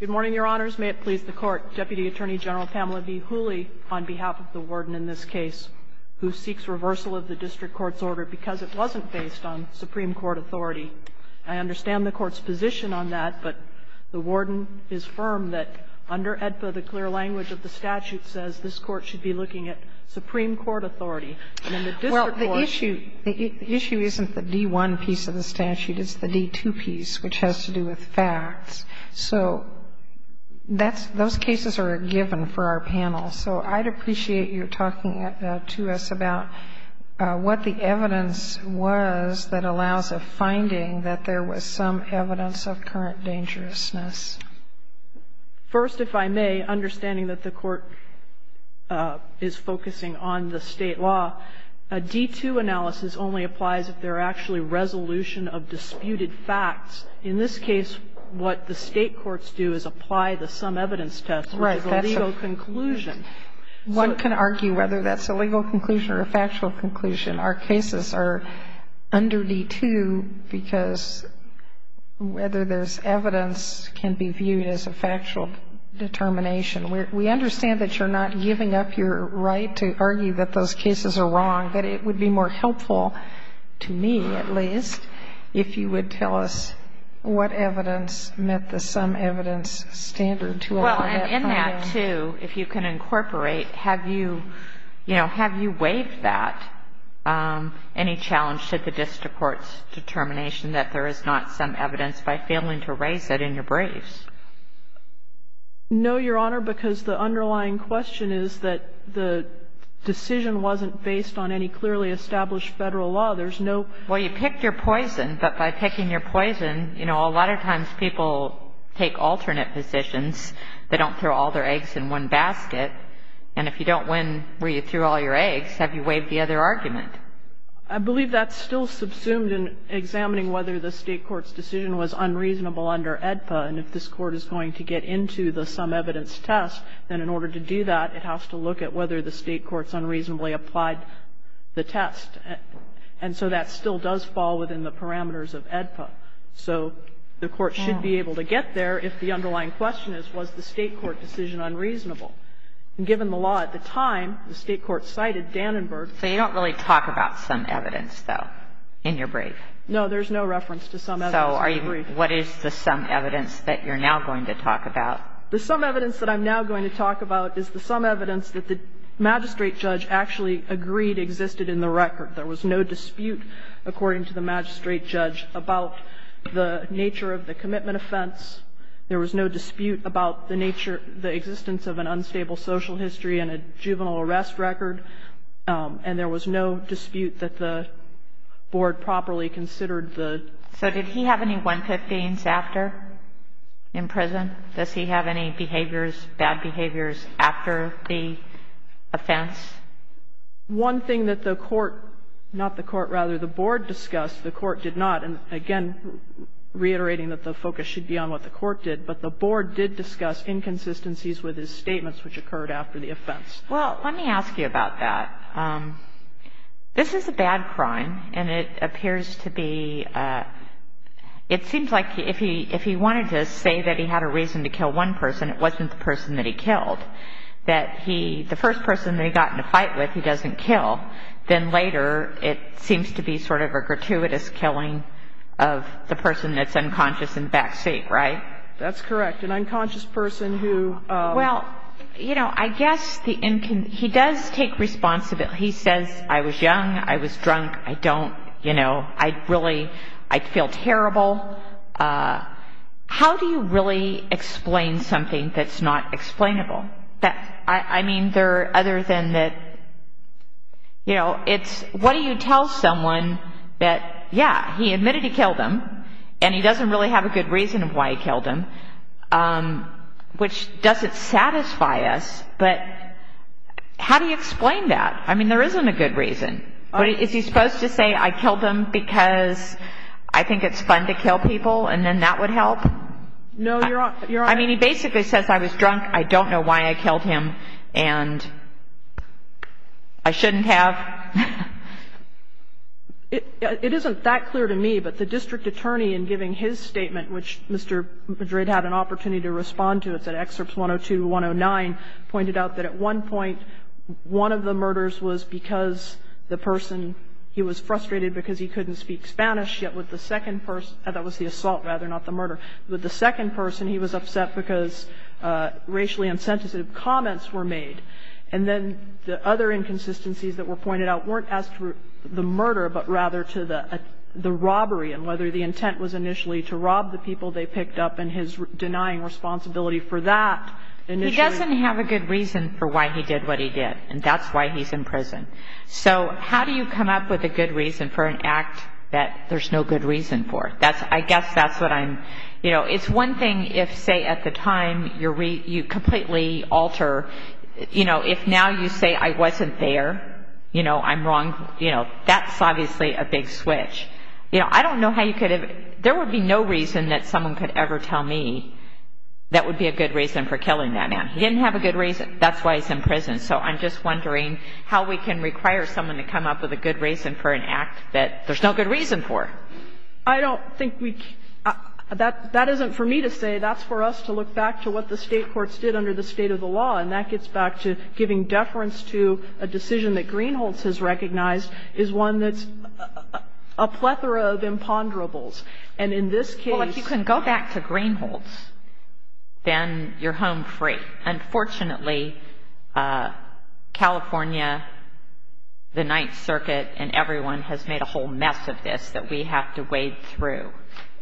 Good morning, Your Honors. May it please the Court, Deputy Attorney General Pamela V. Hooley, on behalf of the Warden in this case, who seeks reversal of the District Court's order because it wasn't based on Supreme Court authority. I understand the Court's position on that, but the Warden is firm that under AEDPA, the clear language of the statute says this Court should be looking at Supreme Court authority. And in the District Court – Well, the issue – the issue isn't the D1 piece of the statute. It's the D2 piece, which has to do with facts. So that's – those cases are a given for our panel. So I'd appreciate your talking to us about what the evidence was that allows a finding that there was some evidence of current dangerousness. First, if I may, understanding that the Court is focusing on the state law, a D2 analysis only applies if there are actually resolution of disputed facts. In this case, what the state courts do is apply the sum evidence test, which is a legal conclusion. One can argue whether that's a legal conclusion or a factual conclusion. Our cases are under D2 because whether there's evidence can be viewed as a factual determination. We understand that you're not giving up your right to argue that those cases are wrong, that it would be more helpful, to me at least, if you would tell us what evidence met the sum evidence standard to allow that finding. Well, and in that, too, if you can incorporate, have you – you know, have you waived that? Any challenge to the District Court's determination that there is not sum evidence by failing to raise it in your briefs? No, Your Honor, because the underlying question is that the decision wasn't based on any clearly established Federal law. There's no – Well, you picked your poison, but by picking your poison, you know, a lot of times people take alternate positions. They don't throw all their eggs in one basket. And if you don't win where you threw all your eggs, have you waived the other argument? I believe that's still subsumed in examining whether the state court's decision was unreasonable under AEDPA. And if this Court is going to get into the sum evidence test, then in order to do that, it has to look at whether the state court's unreasonably applied the test. And so that still does fall within the parameters of AEDPA. So the Court should be able to get there if the underlying question is, was the state court decision unreasonable? And given the law at the time, the state court cited Dannenberg. So you don't really talk about sum evidence, though, in your brief? No, there's no reference to sum evidence. So what is the sum evidence that you're now going to talk about? The sum evidence that I'm now going to talk about is the sum evidence that the magistrate judge actually agreed existed in the record. There was no dispute, according to the magistrate judge, about the nature of the commitment offense. There was no dispute about the nature, the existence of an unstable social history and a juvenile arrest record. And there was no dispute that the board properly considered the ---- So did he have any one-fifth things after in prison? Does he have any behaviors, bad behaviors after the offense? One thing that the court ---- not the court, rather, the board discussed, the court did not. And again, reiterating that the focus should be on what the court did, but the board did discuss inconsistencies with his statements which occurred after the offense. Well, let me ask you about that. This is a bad crime, and it appears to be ---- it seems like if he wanted to say that he had a reason to kill one person, it wasn't the person that he killed, that he ---- the first person that he got in a fight with, he doesn't kill. Then later, it seems to be sort of a gratuitous killing of the person that's unconscious in the backseat, right? That's correct. An unconscious person who ---- Well, you know, I guess the ---- he does take responsibility. He says, I was young, I was drunk, I don't, you know, I really ---- I feel terrible. How do you really explain something that's not explainable? That's ---- I mean, there are other than that, you know, it's what do you tell someone that, yeah, he admitted he killed him, and he doesn't really have a good reason of why he killed him, which doesn't satisfy us, but how do you explain that? I mean, there isn't a good reason. But is he supposed to say, I killed him because I think it's fun to kill people, and then that would help? No, Your Honor. I mean, he basically says, I was drunk, I don't know why I killed him, and I shouldn't have. It isn't that clear to me, but the district attorney in giving his statement, which Mr. Madrid had an opportunity to respond to, it's at excerpts 102 to 109, pointed out that at one point, one of the murders was because the person, he was frustrated because he couldn't speak Spanish, yet with the second person, that was the assault rather, not the murder, with the second person, he was upset because of the people they picked up, and his denying responsibility for that. He doesn't have a good reason for why he did what he did, and that's why he's in prison. So how do you come up with a good reason for an act that there's no good reason for? I guess that's what I'm, you know, it's one thing if, say, at the time, you completely alter, you know, if now you say, I wasn't there, you know, I'm wrong, you know, that's obviously a big switch. You know, I don't know how you could have, there would be no reason that someone could ever tell me that would be a good reason for killing that man. He didn't have a good reason. That's why he's in prison. So I'm just wondering how we can require someone to come up with a good reason for an act that there's no good reason for. I don't think we, that, that isn't for me to say. That's for us to look back to what the state courts did under the state of the law, and that gets back to giving deference to a decision that Greenholts has recognized is one that's a plethora of imponderables. And in this case. Well, if you can go back to Greenholts, then you're home free. Unfortunately, California, the Ninth Circuit, and everyone has made a whole mess of this that we have to wade through.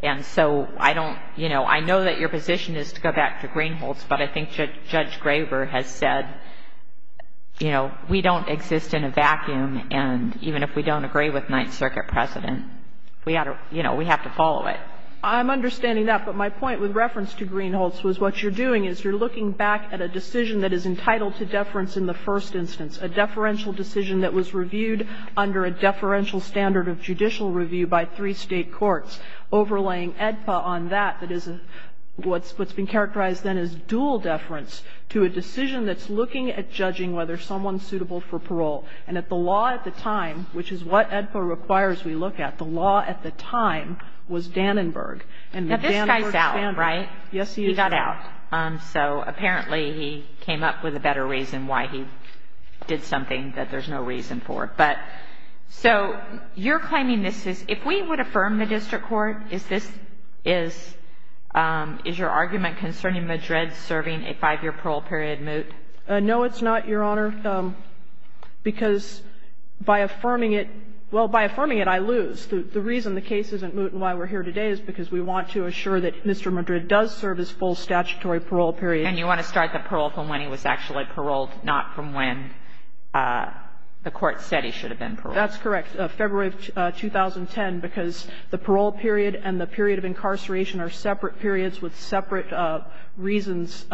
And so I don't, you know, I know that your position is to go back to Greenholts, but I think Judge Graber has said, you know, we don't exist in a vacuum, and even if we don't agree with Ninth Circuit precedent, we ought to, you know, we have to follow it. I'm understanding that. But my point with reference to Greenholts was what you're doing is you're looking back at a decision that is entitled to deference in the first instance. A deferential decision that was reviewed under a deferential standard of judicial review by three state courts. Overlaying AEDPA on that, that is a, what's, what's been characterized then as dual deference to a decision that's looking at judging whether someone's suitable for parole. And at the law at the time, which is what AEDPA requires we look at, the law at the time was Dannenberg. And the Dannenberg standard. Now, this guy's out, right? Yes, he is out. He got out. So apparently, he came up with a better reason why he did something that there's no reason for. But so you're claiming this is, if we would affirm the district court, is this, is, is your argument concerning Madrid serving a five-year parole period moot? No, it's not, Your Honor, because by affirming it, well, by affirming it, I lose. The reason the case isn't moot and why we're here today is because we want to assure that Mr. Madrid does serve his full statutory parole period. And you want to start the parole from when he was actually paroled, not from when the court said he should have been paroled. That's correct, February of 2010, because the parole period and the period of incarceration are separate periods with separate reasons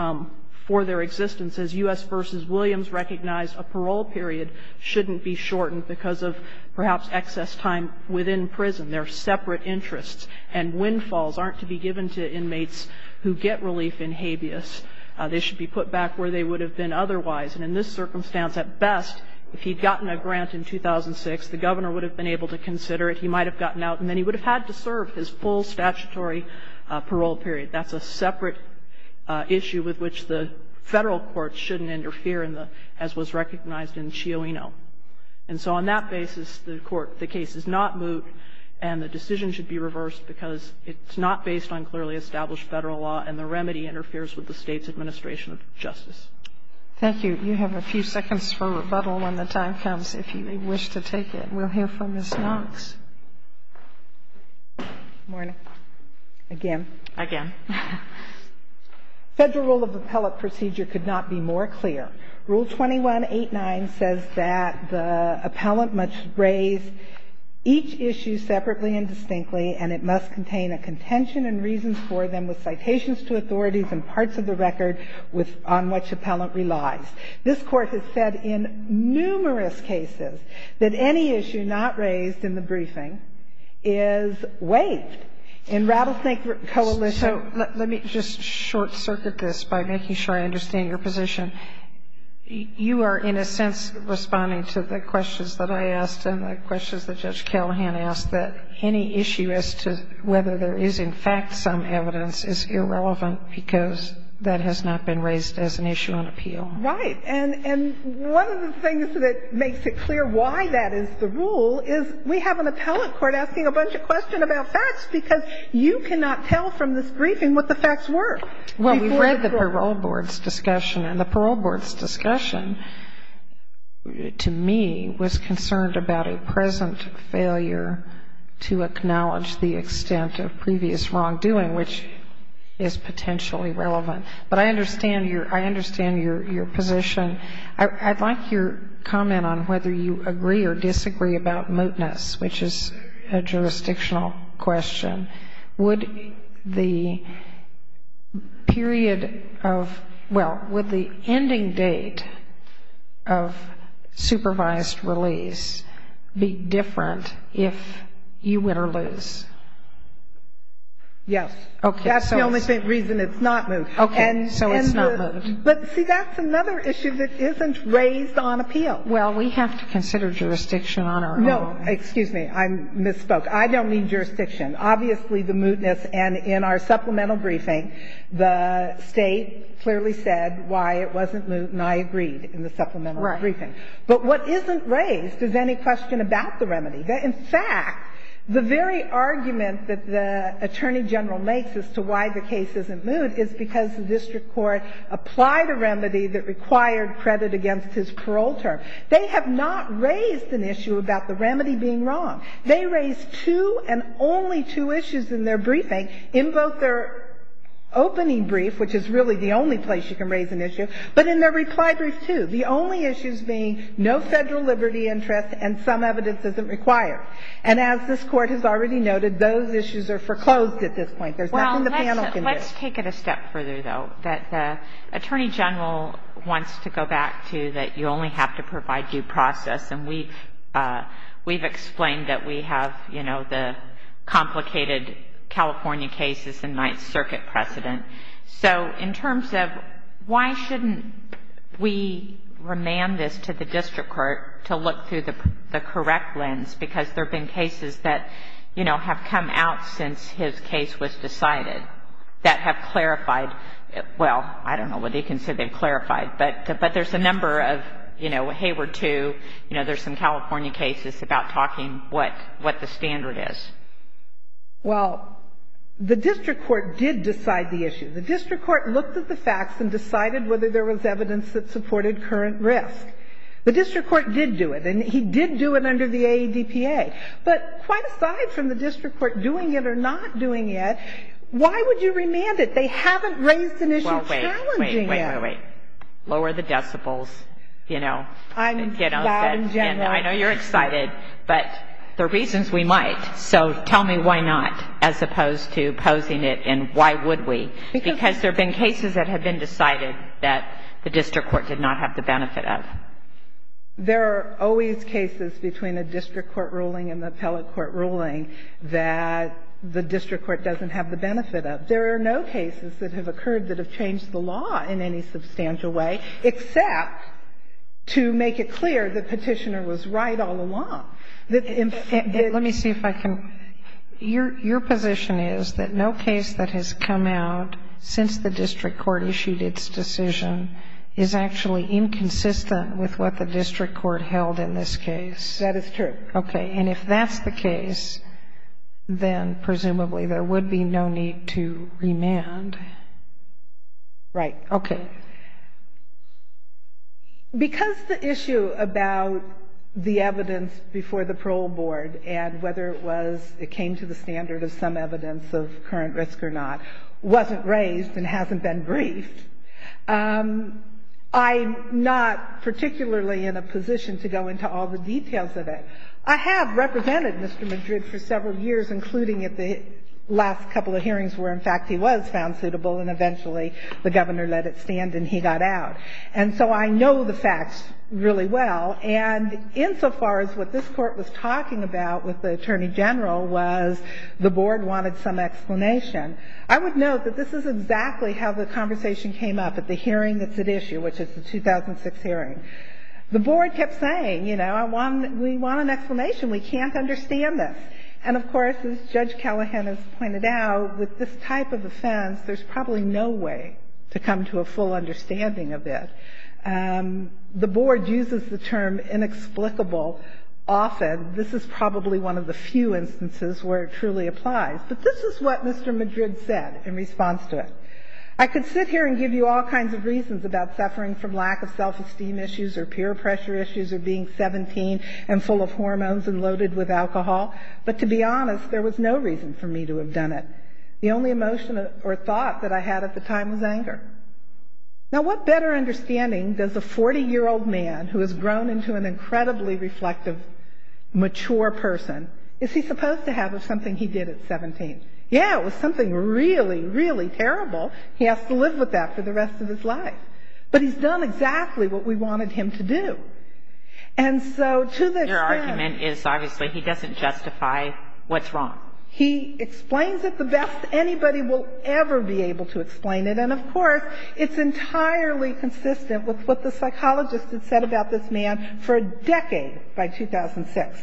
for their existence. As U.S. v. Williams recognized, a parole period shouldn't be shortened because of perhaps excess time within prison. They're separate interests. And windfalls aren't to be given to inmates who get relief in habeas. They should be put back where they would have been otherwise. And in this circumstance, at best, if he'd gotten a grant in 2006, the governor would have been able to consider it. He might have gotten out, and then he would have had to serve his full statutory parole period. That's a separate issue with which the Federal courts shouldn't interfere in the, as was recognized in Chioino. And so on that basis, the court, the case is not moot, and the decision should be reversed because it's not based on clearly established Federal law, and the remedy interferes with the State's administration of justice. Thank you. You have a few seconds for rebuttal when the time comes, if you wish to take it. We'll hear from Ms. Knox. Good morning. Again. Again. Federal rule of appellate procedure could not be more clear. Rule 21.89 says that the appellant must raise each issue separately and distinctly, and it must contain a contention and reasons for them with citations to authorities and parts of the case. And that's what the Federal rule of appellant relies. This Court has said in numerous cases that any issue not raised in the briefing is waived. In Rattlesnake Coalition So, let me just short-circuit this by making sure I understand your position. You are, in a sense, responding to the questions that I asked and the questions that Judge Callahan asked, that any issue as to whether there is, in fact, some evidence is irrelevant because that has not been raised as an issue on the appellant appeal. Right. And one of the things that makes it clear why that is the rule is we have an appellant court asking a bunch of questions about facts because you cannot tell from this briefing what the facts were. Well, we've read the parole board's discussion, and the parole board's discussion to me was concerned about a present failure to acknowledge the extent of previous wrongdoing, which is potentially relevant. But I understand your position. I'd like your comment on whether you agree or disagree about mootness, which is a jurisdictional question. Would the period of, well, would the ending date of supervised release be Yes. Okay. That's the only reason it's not moot. Okay. So it's not moot. But, see, that's another issue that isn't raised on appeal. Well, we have to consider jurisdiction on our own. No. Excuse me. I misspoke. I don't need jurisdiction. Obviously, the mootness and in our supplemental briefing, the State clearly said why it wasn't moot, and I agreed in the supplemental briefing. Right. But what isn't raised is any question about the remedy. In fact, the very argument that the Attorney General makes as to why the case isn't moot is because the district court applied a remedy that required credit against his parole term. They have not raised an issue about the remedy being wrong. They raised two and only two issues in their briefing, in both their opening brief, which is really the only place you can raise an issue, but in their reply brief, too, the only issues being no federal liberty interest and some evidence isn't required. And as this Court has already noted, those issues are foreclosed at this point. There's nothing the panel can do. Well, let's take it a step further, though, that the Attorney General wants to go back to that you only have to provide due process. And we've explained that we have, you know, the complicated California cases and Ninth Circuit precedent. So in terms of why shouldn't we remand this to the district court to look through the correct lens, because there have been cases that, you know, have come out since his case was decided that have clarified — well, I don't know whether you can say they've clarified, but there's a number of, you know, Hayward II, you know, there's some California cases about talking what the standard is. Well, the district court did decide the issue. The district court looked at the facts and decided whether there was evidence that supported current risk. The district court did do it, and he did do it under the AEDPA. But quite aside from the district court doing it or not doing it, why would you remand it? They haven't raised an issue challenging it. Well, wait, wait, wait, wait, wait. Lower the decibels, you know. I'm loud in general. I know you're excited, but there are reasons we might. So tell me why not as opposed to posing it, and why would we? Because there have been cases that have been decided that the district court did not have the benefit of. There are always cases between a district court ruling and an appellate court ruling that the district court doesn't have the benefit of. There are no cases that have occurred that have changed the law in any substantial way except to make it clear the petitioner was right all along. Let me see if I can. Your position is that no case that has come out since the district court issued its decision is actually inconsistent with what the district court held in this case? That is true. Okay. And if that's the case, then presumably there would be no need to remand. Right. Okay. Because the issue about the evidence before the parole board and whether it was it came to the standard of some evidence of current risk or not wasn't raised and hasn't been briefed, I'm not particularly in a position to go into all the details of it. I have represented Mr. Madrid for several years, including at the last couple of hearings where, in fact, he was found suitable, and eventually the governor let it stand and he got out. And so I know the facts really well. And insofar as what this court was talking about with the attorney general was the board wanted some explanation, I would note that this is exactly how the conversation came up at the hearing that's at issue, which is the 2006 hearing. The board kept saying, you know, we want an explanation. We can't understand this. And, of course, as Judge Callahan has pointed out, with this type of offense, there's probably no way to come to a full understanding of it. The board uses the term inexplicable often. This is probably one of the few instances where it truly applies. But this is what Mr. Madrid said in response to it. I could sit here and give you all kinds of reasons about suffering from lack of self-esteem issues or peer pressure issues or being 17 and full of hormones and loaded with alcohol, but to be honest, there was no reason for me to have done it. The only emotion or thought that I had at the time was anger. Now, what better understanding does a 40-year-old man who has grown into an incredibly reflective, mature person, is he supposed to have of something he did at 17? Yeah, it was something really, really terrible. He has to live with that for the rest of his life. But he's done exactly what we wanted him to do. And so to the extent... Your argument is, obviously, he doesn't justify what's wrong. He explains it the best anybody will ever be able to explain it. And, of course, it's entirely consistent with what the psychologist had said about this man for a decade by 2006.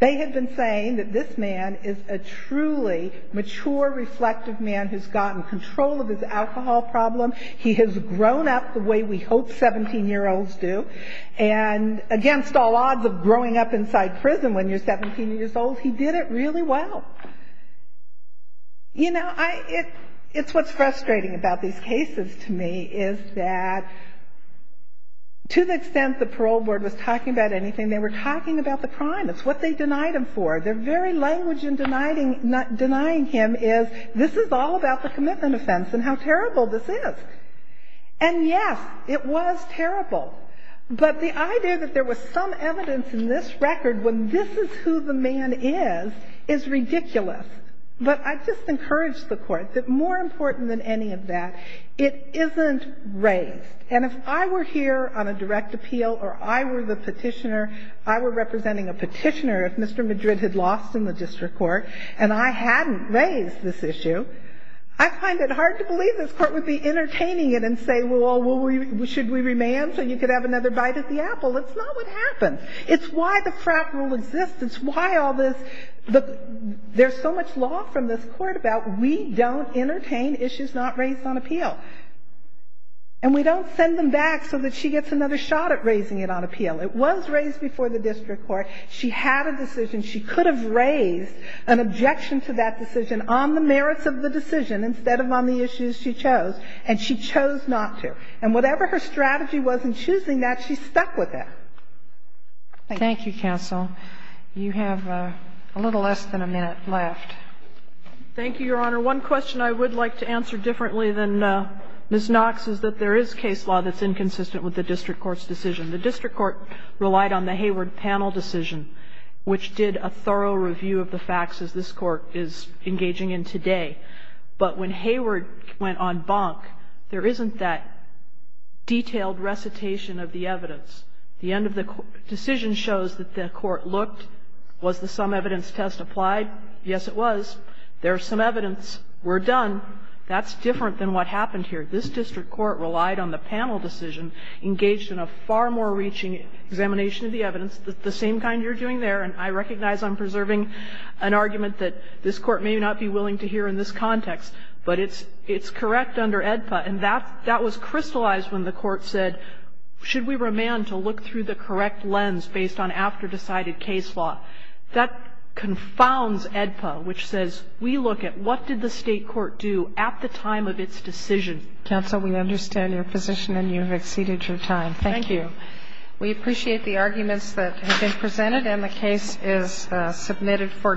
They had been saying that this man is a truly mature, reflective man who's gotten control of his alcohol problem. He has grown up the way we hope 17-year-olds do. And against all odds of growing up inside prison when you're 17 years old, he did it really well. You know, it's what's frustrating about these cases to me, is that to the extent the parole board was talking about anything, they were talking about the crime. It's what they denied him for. Their very language in denying him is, this is all about the commitment offense and how terrible this is. And, yes, it was terrible. But the idea that there was some evidence in this record when this is who the man was is ridiculous. But I just encourage the Court that more important than any of that, it isn't raised. And if I were here on a direct appeal or I were the petitioner, I were representing a petitioner, if Mr. Madrid had lost in the district court and I hadn't raised this issue, I find it hard to believe this Court would be entertaining it and say, well, should we remand so you could have another bite at the apple? That's not what happened. It's why the frat rule exists. It's why all this. There's so much law from this Court about we don't entertain issues not raised on appeal. And we don't send them back so that she gets another shot at raising it on appeal. It was raised before the district court. She had a decision. She could have raised an objection to that decision on the merits of the decision instead of on the issues she chose. And she chose not to. And whatever her strategy was in choosing that, she stuck with it. Thank you. Thank you, counsel. You have a little less than a minute left. Thank you, Your Honor. One question I would like to answer differently than Ms. Knox is that there is case law that's inconsistent with the district court's decision. The district court relied on the Hayward panel decision, which did a thorough review of the facts as this Court is engaging in today. But when Hayward went on bonk, there isn't that detailed recitation of the evidence. The end of the decision shows that the court looked. Was the sum evidence test applied? Yes, it was. There's some evidence. We're done. That's different than what happened here. This district court relied on the panel decision, engaged in a far more reaching examination of the evidence, the same kind you're doing there. And I recognize I'm preserving an argument that this Court may not be willing to hear in this context. But it's correct under AEDPA. And that was crystallized when the court said, should we remand to look through the correct lens based on after-decided case law? That confounds AEDPA, which says we look at what did the state court do at the time of its decision. Counsel, we understand your position, and you have exceeded your time. Thank you. We appreciate the arguments that have been presented, and the case is submitted for decision.